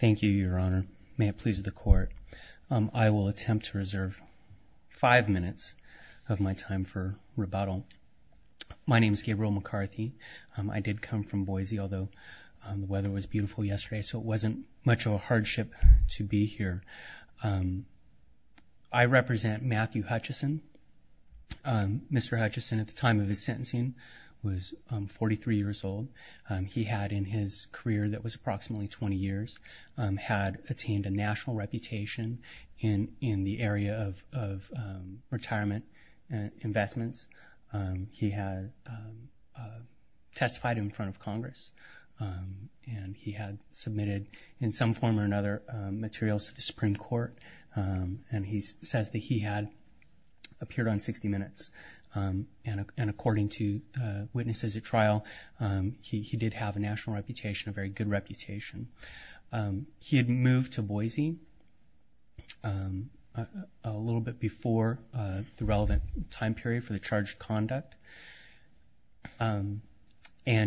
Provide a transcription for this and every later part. Thank you, Your Honor. May it please the Court. I will attempt to reserve five minutes of my time for rebuttal. My name is Gabriel McCarthy. I did come from Boise, although the weather was beautiful yesterday, so it wasn't much of a hardship to be here. I represent Matthew Hutcheson. Mr. Hutcheson, at the time of his sentencing, was 43 years old. He had, in his career that was approximately 20 years, had attained a national reputation in the area of retirement investments. He had testified in front of Congress, and he had submitted, in some form or another, materials to the Supreme Court, and he says that he had appeared on 60 Minutes. And according to witnesses at trial, he did have a national reputation, a very good reputation. He had moved to Boise a little bit before the relevant time period for the charged conduct, and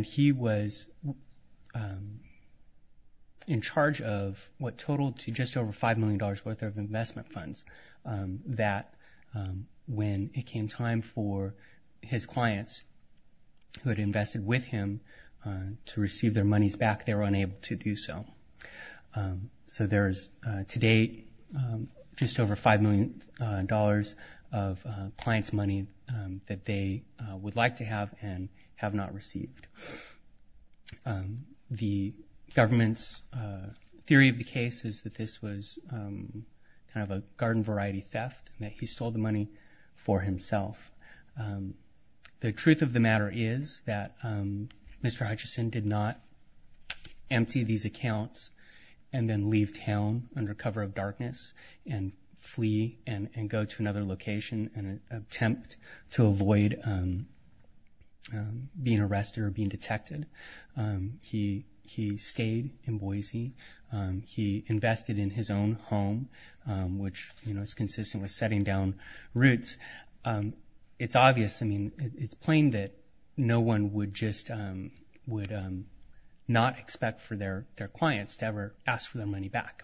he was in charge of what totaled to just over $5 million worth of investment funds that when it came time for his clients, who had invested with him, to receive their monies back, they were unable to do so. So there is, to date, just over $5 million of clients' money that they would like to have and have not received. The government's theory of the case is that this was kind of a garden-variety theft, that he stole the money for himself. The truth of the matter is that Mr. Hutcheson did not empty these accounts and then leave town under cover of darkness and flee and go to another location in an attempt to avoid being arrested or being detected. He stayed in Boise. He invested in his own home, which is consistent with setting down roots. It's obvious. I mean, it's plain that no one would just not expect for their clients to ever ask for their money back.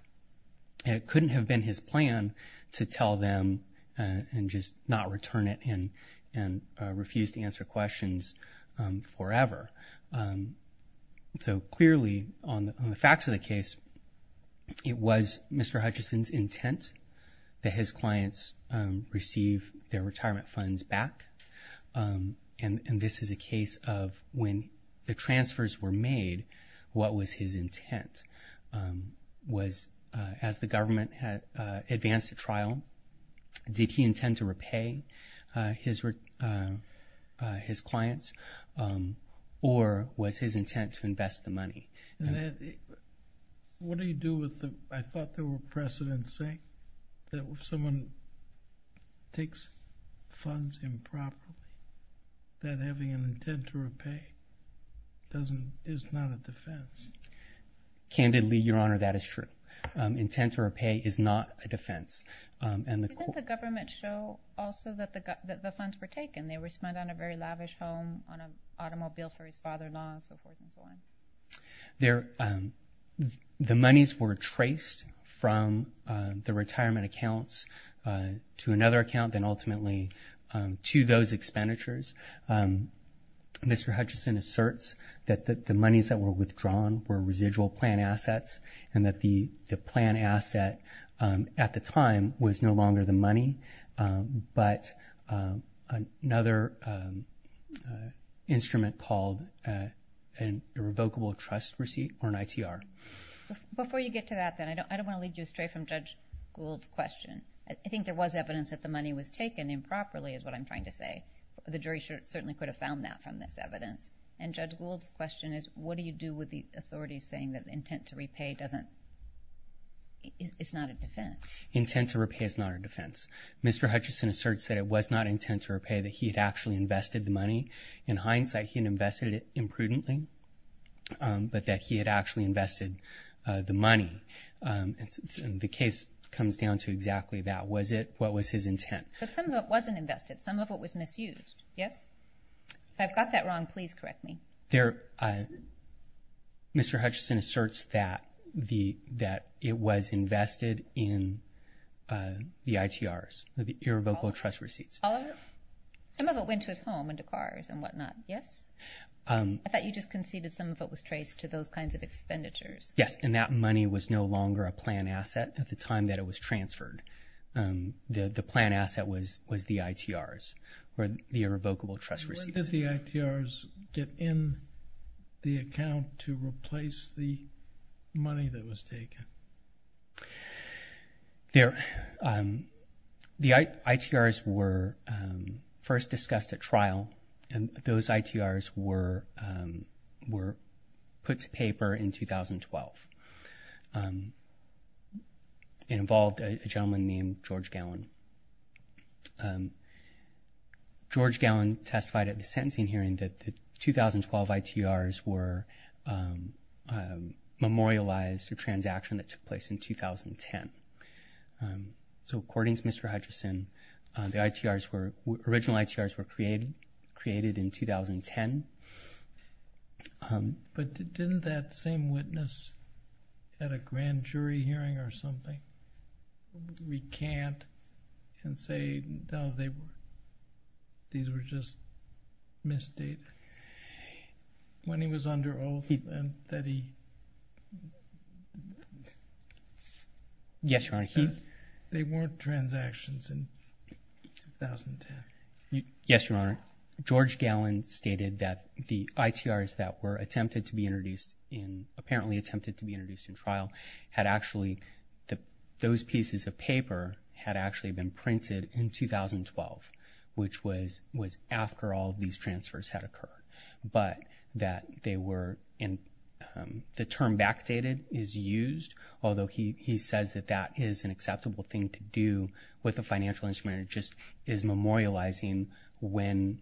It couldn't have been his plan to tell them and just not return it and refuse to answer questions forever. So clearly, on the facts of the case, it was Mr. Hutcheson's intent that his clients receive their retirement funds back, and this is a case of when the transfers were made, what was his intent. As the government advanced the trial, did he intend to repay his clients or was his intent to invest the money? What do you do with the, I thought there were precedents saying, that if someone takes funds improperly, that having an intent to repay is not a defense. Candidly, Your Honor, that is true. Intent to repay is not a defense. Didn't the government show also that the funds were taken? They were spent on a very lavish home, on an automobile for his father-in-law, and so forth and so on. The monies were traced from the retirement accounts to another account, and ultimately to those expenditures. Mr. Hutcheson asserts that the monies that were withdrawn were residual plan assets and that the plan asset at the time was no longer the money, but another instrument called a revocable trust receipt or an ITR. Before you get to that, then, I don't want to lead you astray from Judge Gould's question. I think there was evidence that the money was taken improperly is what I'm trying to say. The jury certainly could have found that from this evidence. And Judge Gould's question is, what do you do with the authorities saying that the intent to repay is not a defense? Intent to repay is not a defense. Mr. Hutcheson asserts that it was not intent to repay, that he had actually invested the money. In hindsight, he had invested it imprudently, but that he had actually invested the money. The case comes down to exactly that. Was it? What was his intent? But some of it wasn't invested. Some of it was misused. Yes? If I've got that wrong, please correct me. Mr. Hutcheson asserts that it was invested in the ITRs, the revocable trust receipts. All of it? Some of it went to his home and to cars and whatnot. Yes? I thought you just conceded some of it was traced to those kinds of expenditures. Yes, and that money was no longer a plan asset at the time that it was transferred. The plan asset was the ITRs or the revocable trust receipts. When did the ITRs get in the account to replace the money that was taken? The ITRs were first discussed at trial, and those ITRs were put to paper in 2012. It involved a gentleman named George Gallon. George Gallon testified at the sentencing hearing that the 2012 ITRs were memorialized to a transaction that took place in 2010. According to Mr. Hutcheson, the original ITRs were created in 2010. But didn't that same witness at a grand jury hearing or something recant and say, no, these were just mis-data? When he was under oath and that he... Yes, Your Honor. They weren't transactions in 2010. Yes, Your Honor. George Gallon stated that the ITRs that were attempted to be introduced in, apparently attempted to be introduced in trial, had actually, those pieces of paper had actually been printed in 2012, which was after all of these transfers had occurred. But that they were in, the term backdated is used, although he says that that is an acceptable thing to do with a financial instrument. It just is memorializing when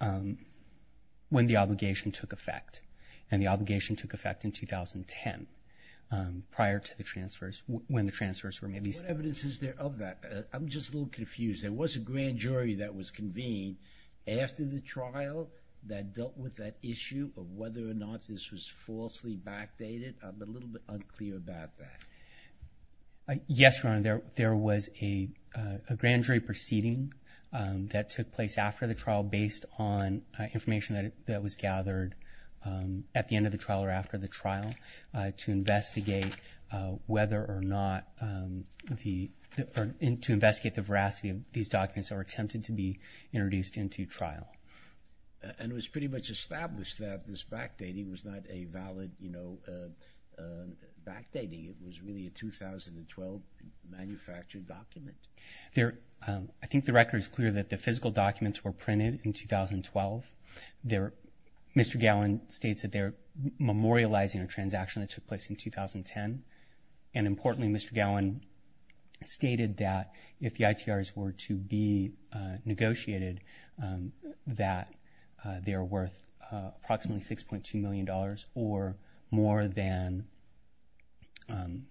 the obligation took effect. And the obligation took effect in 2010 prior to the transfers, when the transfers were made. What evidence is there of that? I'm just a little confused. There was a grand jury that was convened after the trial that dealt with that issue of whether or not this was falsely backdated. I'm a little bit unclear about that. Yes, Your Honor. There was a grand jury proceeding that took place after the trial based on information that was gathered at the end of the trial or after the trial to investigate whether or not the, to investigate the veracity of these documents that were attempted to be introduced into trial. And it was pretty much established that this backdating was not a valid, you know, backdating. It was really a 2012 manufactured document. I think the record is clear that the physical documents were printed in 2012. Mr. Gowen states that they're memorializing a transaction that took place in 2010. And importantly, Mr. Gowen stated that if the ITRs were to be negotiated, that they're worth approximately $6.2 million or more than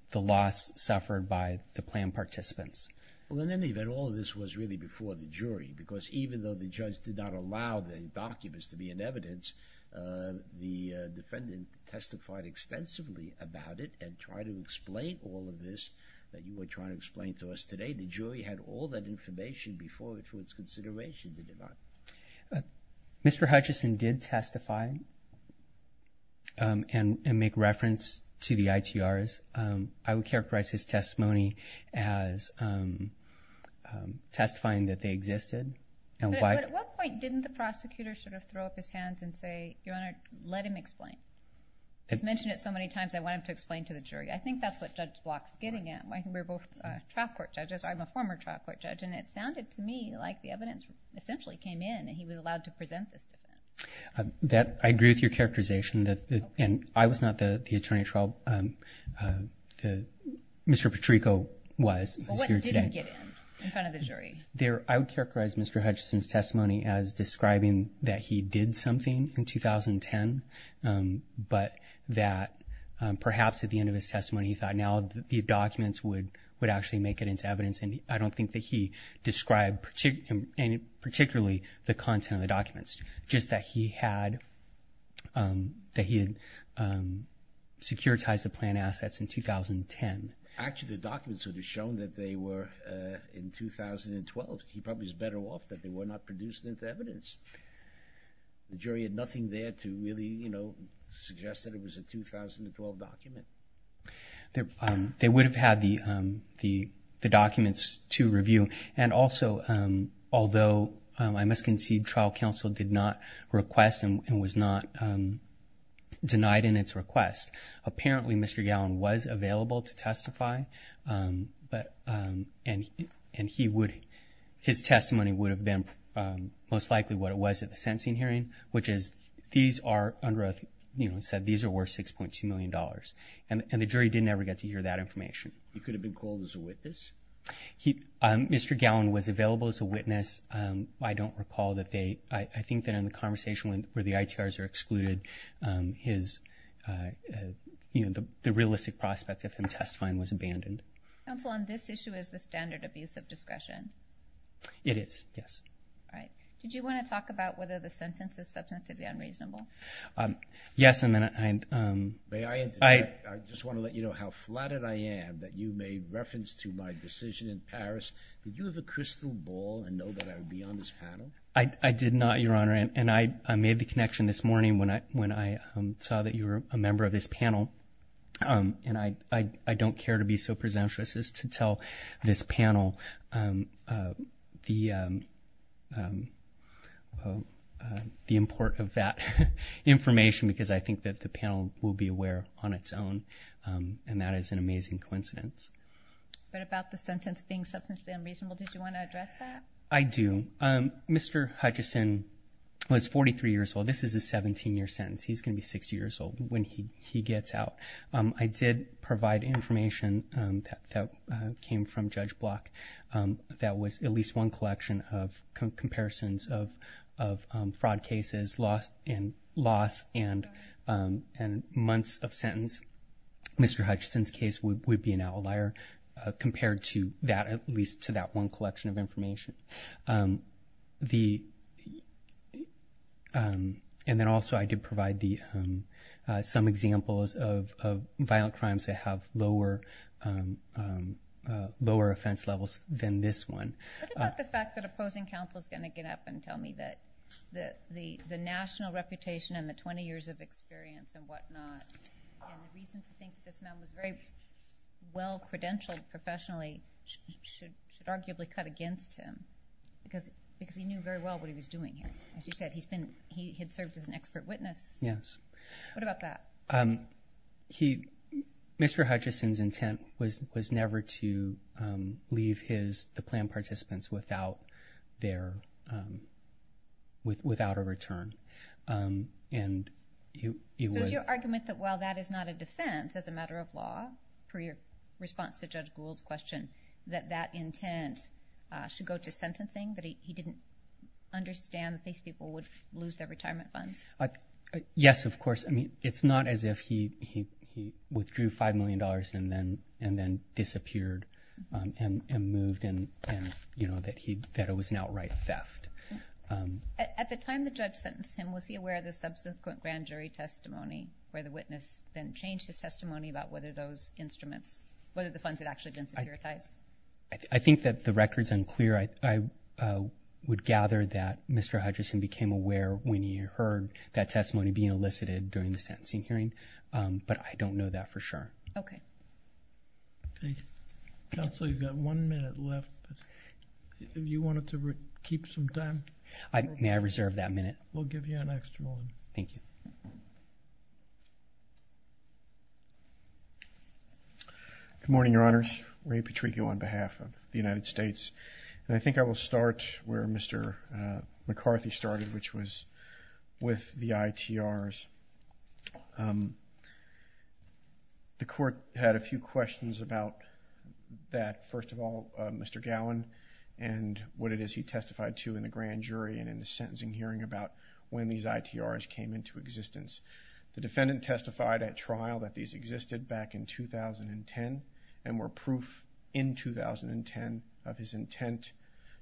the loss suffered by the plan participants. Well, in any event, all of this was really before the jury because even though the judge did not allow the documents to be in evidence, the defendant testified extensively about it and tried to explain all of this that you were trying to explain to us today. The jury had all that information before it for its consideration, did it not? Mr. Hutchison did testify and make reference to the ITRs. I would characterize his testimony as testifying that they existed. But at what point didn't the prosecutor sort of throw up his hands and say, Your Honor, let him explain? He's mentioned it so many times, I want him to explain to the jury. I think that's what Judge Block's getting at. We're both trial court judges. I'm a former trial court judge, and it sounded to me like the evidence essentially came in and he was allowed to present this to them. I agree with your characterization. I was not the attorney at trial. Mr. Petrico was. What did he get in front of the jury? I would characterize Mr. Hutchison's testimony as describing that he did something in 2010, but that perhaps at the end of his testimony he thought now the documents would actually make it into evidence, and I don't think that he described particularly the content of the documents, just that he had securitized the planned assets in 2010. Actually, the documents would have shown that they were in 2012. He probably was better off that they were not produced into evidence. The jury had nothing there to really suggest that it was a 2012 document. They would have had the documents to review, and also although I must concede trial counsel did not request and was not denied in its request, apparently Mr. Gallin was available to testify, and his testimony would have been most likely what it was at the sentencing hearing, which is these are worth $6.2 million, and the jury did never get to hear that information. He could have been called as a witness? Mr. Gallin was available as a witness. I don't recall that they – I think that in the conversation where the ITRs are excluded, the realistic prospect of him testifying was abandoned. Counsel, on this issue, is the standard abuse of discretion? It is, yes. All right. Did you want to talk about whether the sentence is substantively unreasonable? Yes. May I interject? I just want to let you know how flattered I am that you made reference to my decision in Paris. Did you have a crystal ball and know that I would be on this panel? I did not, Your Honor, and I made the connection this morning when I saw that you were a member of this panel, and I don't care to be so presumptuous as to tell this panel the import of that information because I think that the panel will be aware on its own, and that is an amazing coincidence. But about the sentence being substantively unreasonable, did you want to address that? I do. Mr. Hutchison was 43 years old. This is a 17-year sentence. He's going to be 60 years old when he gets out. I did provide information that came from Judge Block that was at least one collection of comparisons of fraud cases, loss, and months of sentence. Mr. Hutchison's case would be an outlier compared to that, at least to that one collection of information. And then also I did provide some examples of violent crimes that have lower offense levels than this one. What about the fact that opposing counsel is going to get up and tell me that the national reputation and the 20 years of experience and whatnot, and the reason to think this man was very well credentialed professionally should arguably cut against him because he knew very well what he was doing here. As you said, he had served as an expert witness. Yes. What about that? Mr. Hutchison's intent was never to leave the planned participants without a return. So is your argument that while that is not a defense as a matter of law, per your response to Judge Gould's question, that that intent should go to sentencing, that he didn't understand that these people would lose their retirement funds? Yes, of course. I mean, it's not as if he withdrew $5 million and then disappeared and moved, and that it was an outright theft. At the time the judge sentenced him, was he aware of the subsequent grand jury testimony where the witness then changed his testimony about whether those instruments, whether the funds had actually been securitized? I think that the record is unclear. I would gather that Mr. Hutchison became aware when he heard that testimony being elicited during the sentencing hearing, but I don't know that for sure. Okay. Thank you. Counsel, you've got one minute left. If you wanted to keep some time. May I reserve that minute? We'll give you an extra minute. Thank you. Good morning, Your Honors. Ray Petricchio on behalf of the United States. And I think I will start where Mr. McCarthy started, which was with the ITRs. The court had a few questions about that. First of all, Mr. Gowan and what it is he testified to in the grand jury and in the sentencing hearing about when these ITRs came into existence. The defendant testified at trial that these existed back in 2010 and were proof in 2010 of his intent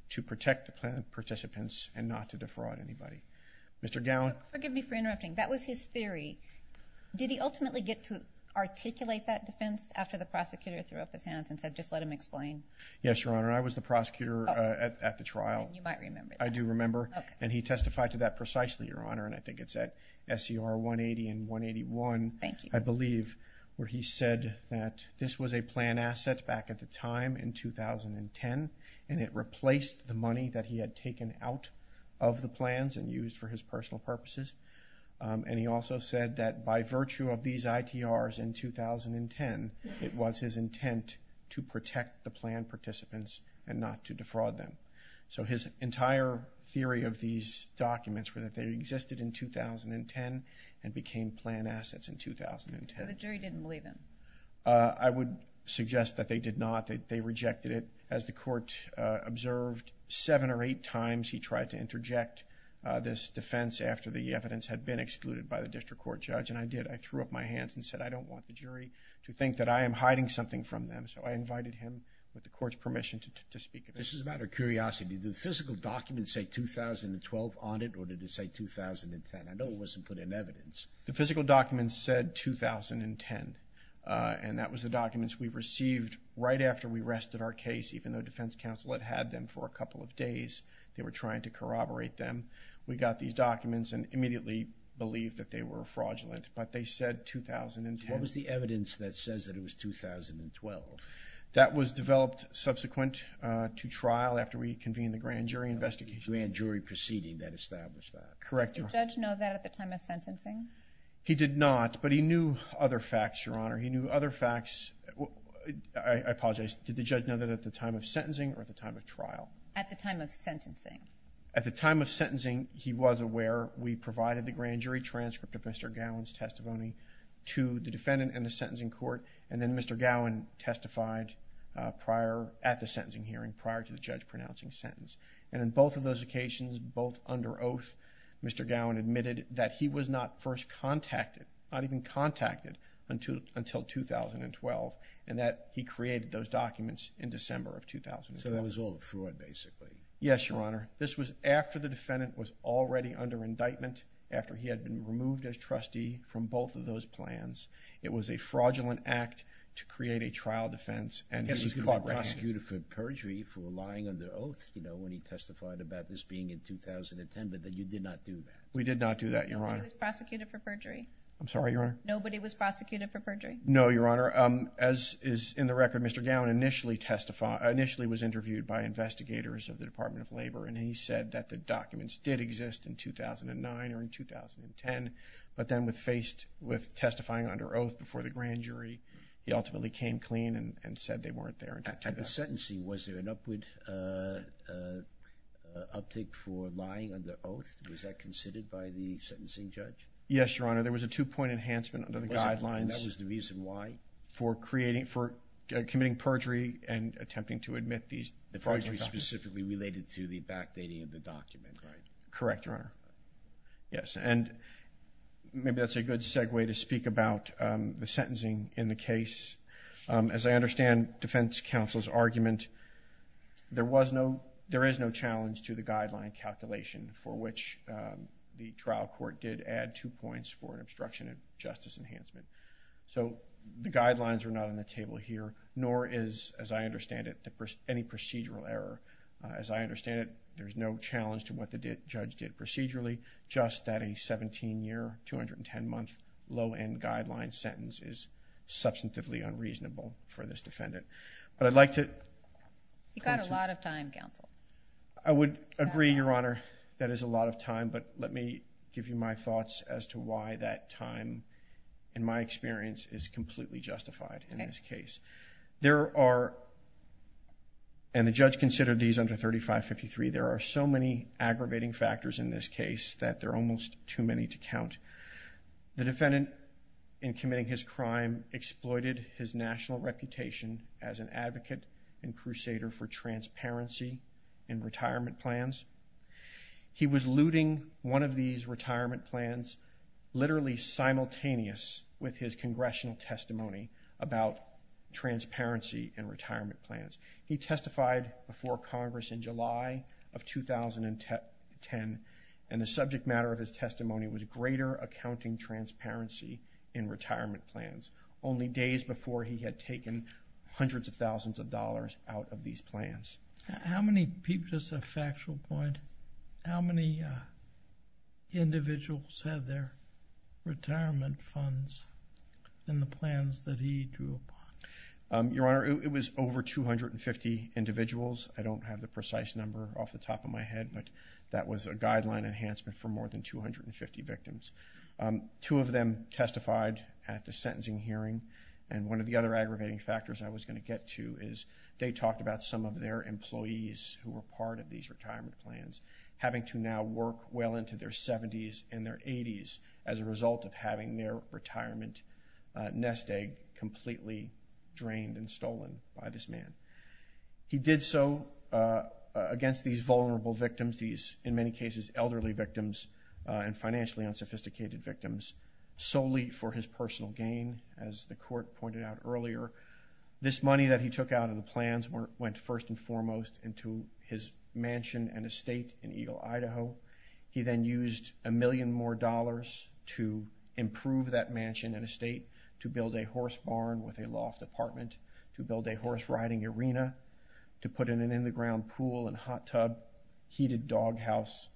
to protect the plaintiff participants and not to defraud anybody. Mr. Gowan. Forgive me for interrupting. That was his theory. Did he ultimately get to articulate that defense after the prosecutor threw up his hands and said just let him explain? Yes, Your Honor. I was the prosecutor at the trial. You might remember that. I do remember. And he testified to that precisely, Your Honor. And I think it's at SCR 180 and 181, I believe, where he said that this was a plan asset back at the time in 2010 and it replaced the money that he had taken out of the plans and used for his personal purposes. And he also said that by virtue of these ITRs in 2010, it was his intent to protect the plan participants and not to defraud them. So his entire theory of these documents were that they existed in 2010 and became plan assets in 2010. So the jury didn't believe him? I would suggest that they did not. They rejected it. As the court observed, seven or eight times he tried to interject this defense after the evidence had been excluded by the district court judge, and I did. I threw up my hands and said, I don't want the jury to think that I am hiding something from them. So I invited him, with the court's permission, to speak. This is a matter of curiosity. Did the physical documents say 2012 on it, or did it say 2010? I know it wasn't put in evidence. The physical documents said 2010, and that was the documents we received right after we rested our case, even though defense counsel had had them for a couple of days. They were trying to corroborate them. We got these documents and immediately believed that they were fraudulent. But they said 2010. What was the evidence that says that it was 2012? That was developed subsequent to trial, after we convened the grand jury investigation. The grand jury proceeding that established that. Correct. Did the judge know that at the time of sentencing? He did not, but he knew other facts, Your Honor. He knew other facts. I apologize. Did the judge know that at the time of sentencing or at the time of trial? At the time of sentencing. At the time of sentencing, he was aware. We provided the grand jury transcript of Mr. Gowen's testimony to the defendant and the sentencing court, and then Mr. Gowen testified prior, at the sentencing hearing, prior to the judge pronouncing the sentence. And on both of those occasions, both under oath, Mr. Gowen admitted that he was not first contacted, not even contacted until 2012, and that he created those documents in December of 2012. So that was all fraud, basically. Yes, Your Honor. This was after the defendant was already under indictment, after he had been removed as trustee from both of those plans. It was a fraudulent act to create a trial defense, and he was caught red-handed. Yes, he was prosecuted for perjury for lying under oath, you know, when he testified about this being in 2010, but you did not do that. We did not do that, Your Honor. Nobody was prosecuted for perjury? I'm sorry, Your Honor? Nobody was prosecuted for perjury? No, Your Honor. As is in the record, Mr. Gowen initially testified, initially was interviewed by investigators of the Department of Labor, and he said that the documents did exist in 2009 or in 2010, but then with testifying under oath before the grand jury, he ultimately came clean and said they weren't there. At the sentencing, was there an upward uptick for lying under oath? Was that considered by the sentencing judge? Yes, Your Honor. There was a two-point enhancement under the guidelines. And that was the reason why? For committing perjury and attempting to admit these fraudulent documents. The perjury specifically related to the backdating of the document, right? Correct, Your Honor. Yes, and maybe that's a good segue to speak about the sentencing in the case. As I understand defense counsel's argument, there is no challenge to the guideline calculation for which the trial court did add two points for obstruction of justice enhancement. So, the guidelines are not on the table here, nor is, as I understand it, any procedural error. As I understand it, there's no challenge to what the judge did procedurally, just that a 17-year, 210-month low-end guideline sentence is substantively unreasonable for this defendant. But I'd like to... You've got a lot of time, counsel. I would agree, Your Honor, that is a lot of time, but let me give you my thoughts as to why that time, in my experience, is completely justified in this case. There are... And the judge considered these under 3553. There are so many aggravating factors in this case that there are almost too many to count. The defendant, in committing his crime, exploited his national reputation as an advocate and crusader for transparency in retirement plans. He was looting one of these retirement plans literally simultaneous with his congressional testimony about transparency in retirement plans. He testified before Congress in July of 2010, and the subject matter of his testimony was greater accounting transparency in retirement plans, only days before he had taken hundreds of thousands of dollars out of these plans. How many people... Just a factual point. How many individuals had their retirement funds in the plans that he drew upon? Your Honor, it was over 250 individuals. I don't have the precise number off the top of my head, but that was a guideline enhancement for more than 250 victims. Two of them testified at the sentencing hearing, and one of the other aggravating factors I was going to get to is they talked about some of their employees who were part of these retirement plans having to now work well into their 70s and their 80s as a result of having their retirement nest egg completely drained and stolen by this man. He did so against these vulnerable victims, these, in many cases, elderly victims and financially unsophisticated victims, solely for his personal gain, as the court pointed out earlier. However, this money that he took out of the plans went first and foremost into his mansion and estate in Eagle, Idaho. He then used a million more dollars to improve that mansion and estate, to build a horse barn with a loft apartment, to build a horse-riding arena, to put in an in-the-ground pool and hot tub, heated doghouse,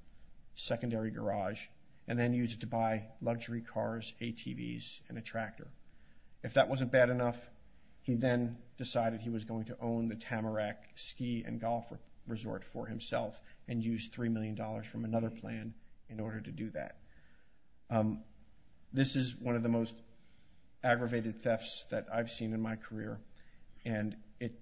secondary garage, and then used it to buy luxury cars, ATVs, and a tractor. If that wasn't bad enough, he then decided he was going to own the Tamarack Ski and Golf Resort for himself and used $3 million from another plan in order to do that. This is one of the most aggravated thefts that I've seen in my career, and it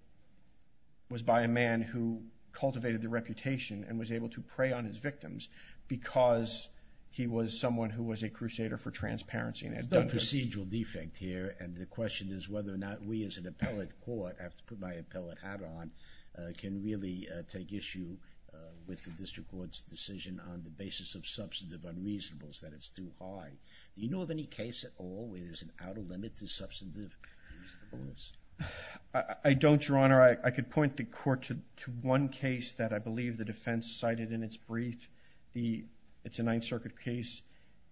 was by a man who cultivated a reputation and was able to prey on his victims because he was someone who was a crusader for transparency. There's no procedural defect here, and the question is whether or not we as an appellate court, I have to put my appellate hat on, can really take issue with the district court's decision on the basis of substantive unreasonableness, that it's too high. Do you know of any case at all where there's an outer limit to substantive unreasonableness? I don't, Your Honor. I could point the court to one case that I believe the defense cited in its brief. It's a Ninth Circuit case.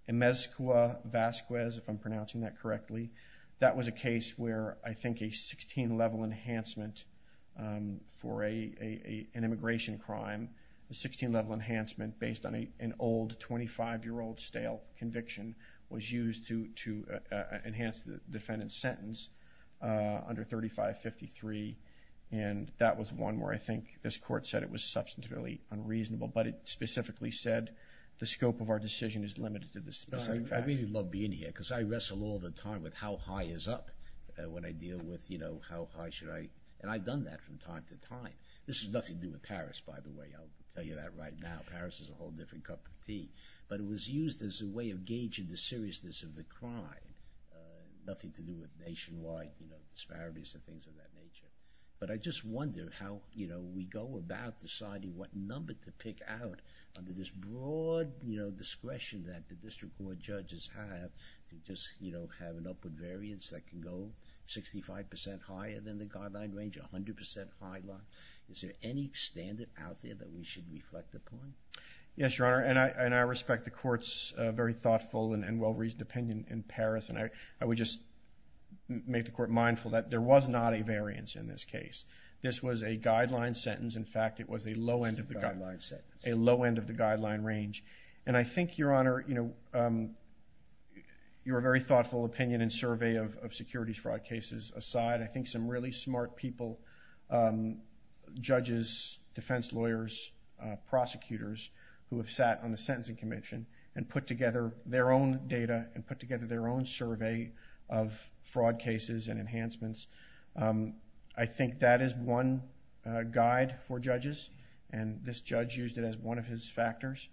In Mezcua-Vasquez, if I'm pronouncing that correctly, that was a case where I think a 16-level enhancement for an immigration crime, a 16-level enhancement based on an old 25-year-old stale conviction was used to enhance the defendant's sentence under 3553, and that was one where I think this court said it was substantively unreasonable, but it specifically said the scope of our decision is limited to this specific fact. I really love being here because I wrestle all the time with how high is up when I deal with how high should I, and I've done that from time to time. This has nothing to do with Paris, by the way. I'll tell you that right now. Paris is a whole different cup of tea. But it was used as a way of gauging the seriousness of the crime, nothing to do with nationwide disparities and things of that nature. But I just wonder how we go about deciding what number to pick out under this broad discretion that the district court judges have to just have an upward variance that can go 65% higher than the guideline range, 100% higher than the guideline range. Is there any standard out there that we should reflect upon? Yes, Your Honor, and I respect the court's very thoughtful and well-reasoned opinion in Paris, and I would just make the court mindful that there was not a variance in this case. This was a guideline sentence. In fact, it was a low end of the guideline range. And I think, Your Honor, your very thoughtful opinion and survey of securities fraud cases aside, I think some really smart people, judges, defense lawyers, prosecutors, who have sat on the Sentencing Commission and put together their own data and put together their own survey of fraud cases and enhancements, I think that is one guide for judges, and this judge used it as one of his factors.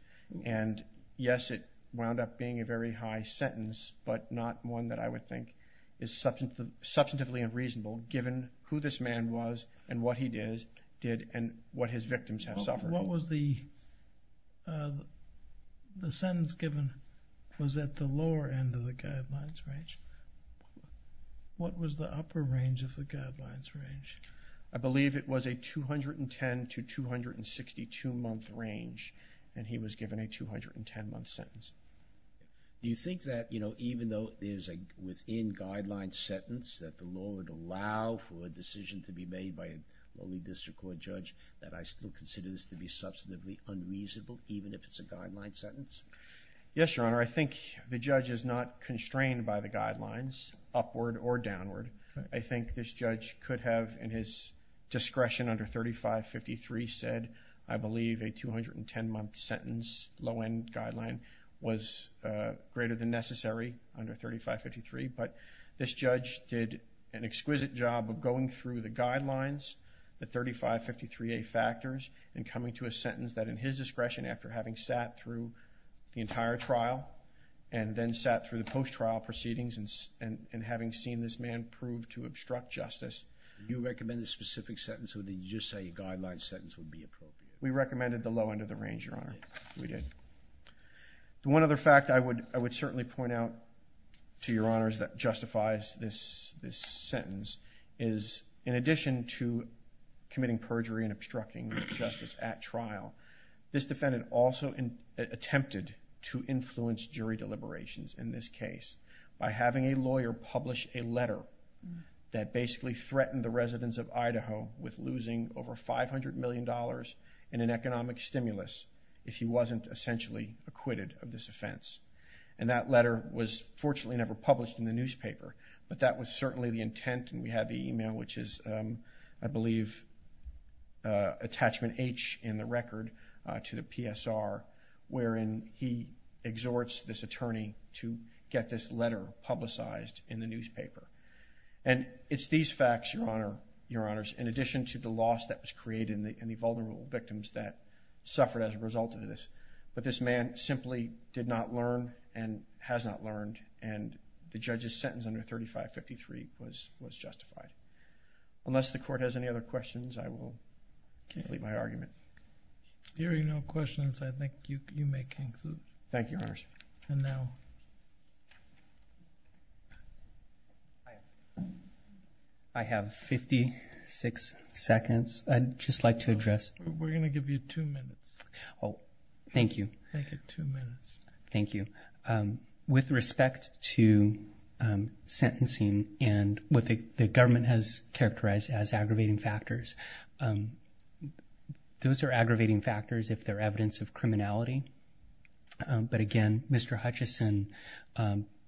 And yes, it wound up being a very high sentence, but not one that I would think is substantively unreasonable given who this man was and what he did and what his victims have suffered. Your Honor, what was the sentence given was at the lower end of the guidelines range. What was the upper range of the guidelines range? I believe it was a 210 to 262-month range, and he was given a 210-month sentence. Do you think that, you know, even though there's a within-guidelines sentence that the law would allow for a decision to be made by a lowly district court judge, that I still consider this to be substantively unreasonable even if it's a guideline sentence? Yes, Your Honor. I think the judge is not constrained by the guidelines upward or downward. I think this judge could have in his discretion under 3553 said, I believe a 210-month sentence low-end guideline was greater than necessary under 3553, but this judge did an exquisite job of going through the guidelines. The 3553A factors in coming to a sentence that in his discretion after having sat through the entire trial and then sat through the post-trial proceedings and having seen this man prove to obstruct justice. Do you recommend a specific sentence or did you just say a guideline sentence would be appropriate? We recommended the low end of the range, Your Honor. We did. The one other fact I would certainly point out to Your Honors that justifies this sentence is in addition to committing perjury and obstructing justice at trial, this defendant also attempted to influence jury deliberations in this case by having a lawyer publish a letter that basically threatened the residents of Idaho with losing over $500 million in an economic stimulus if he wasn't essentially acquitted of this offense. And that letter was fortunately never published in the newspaper, but that was certainly the intent and we have the email, which is, I believe, attachment H in the record to the PSR wherein he exhorts this attorney to get this letter publicized in the newspaper. And it's these facts, Your Honors, in addition to the loss that was created and the vulnerable victims that suffered as a result of this, but this man simply did not learn and has not learned and the judge's sentence under 3553 was justified. Unless the court has any other questions, I will complete my argument. Hearing no questions, I think you may conclude. Thank you, Your Honors. And now. I have 56 seconds. I'd just like to address. We're going to give you two minutes. Oh, thank you. Thank you. Two minutes. Thank you. With respect to sentencing and what the government has characterized as aggravating factors, those are aggravating factors if they're evidence of criminality. But, again, Mr. Hutchison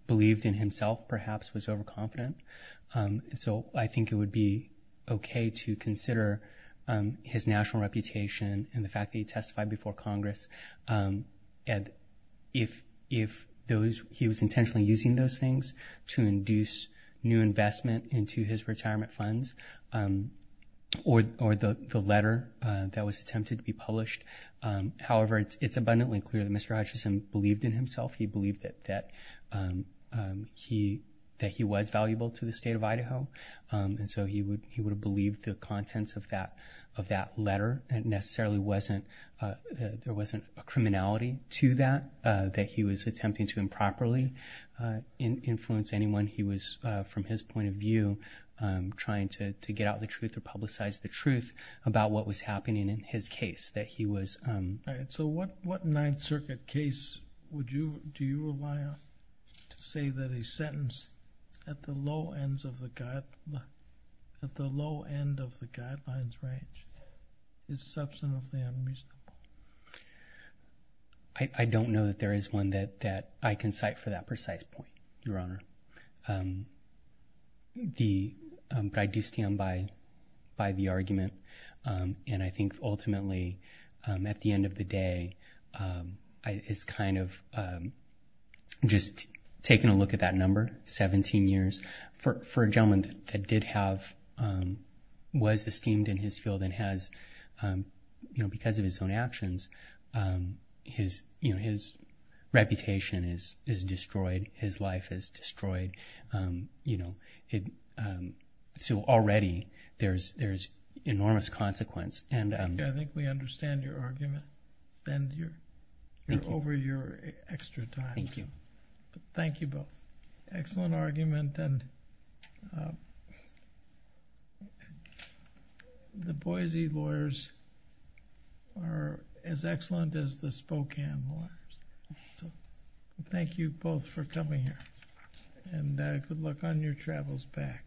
believed in himself, perhaps was overconfident. So I think it would be okay to consider his national reputation and the fact that he testified before Congress. And if he was intentionally using those things to induce new investment into his retirement funds or the letter that was attempted to be published. However, it's abundantly clear that Mr. Hutchison believed in himself. He believed that he was valuable to the State of Idaho. And so he would have believed the contents of that letter. It necessarily wasn't, there wasn't a criminality to that, that he was attempting to improperly influence anyone. He was, from his point of view, trying to get out the truth or publicize the truth about what was happening in his case, that he was. All right. So what Ninth Circuit case would you, do you rely on to say that a sentence at the low end of the guidelines range is substantively unreasonable? I don't know that there is one that I can cite for that precise point, Your Honor. But I do stand by the argument. And I think, ultimately, at the end of the day, it's kind of just taking a look at that number, 17 years, for a gentleman that did have, was esteemed in his field and has, because of his own actions, his reputation is destroyed. His life is destroyed. So already there's enormous consequence. I think we understand your argument. And you're over your extra time. Thank you. Thank you both. Excellent argument. And the Boise lawyers are as excellent as the Spokane lawyers. So thank you both for coming here. And good luck on your travels back.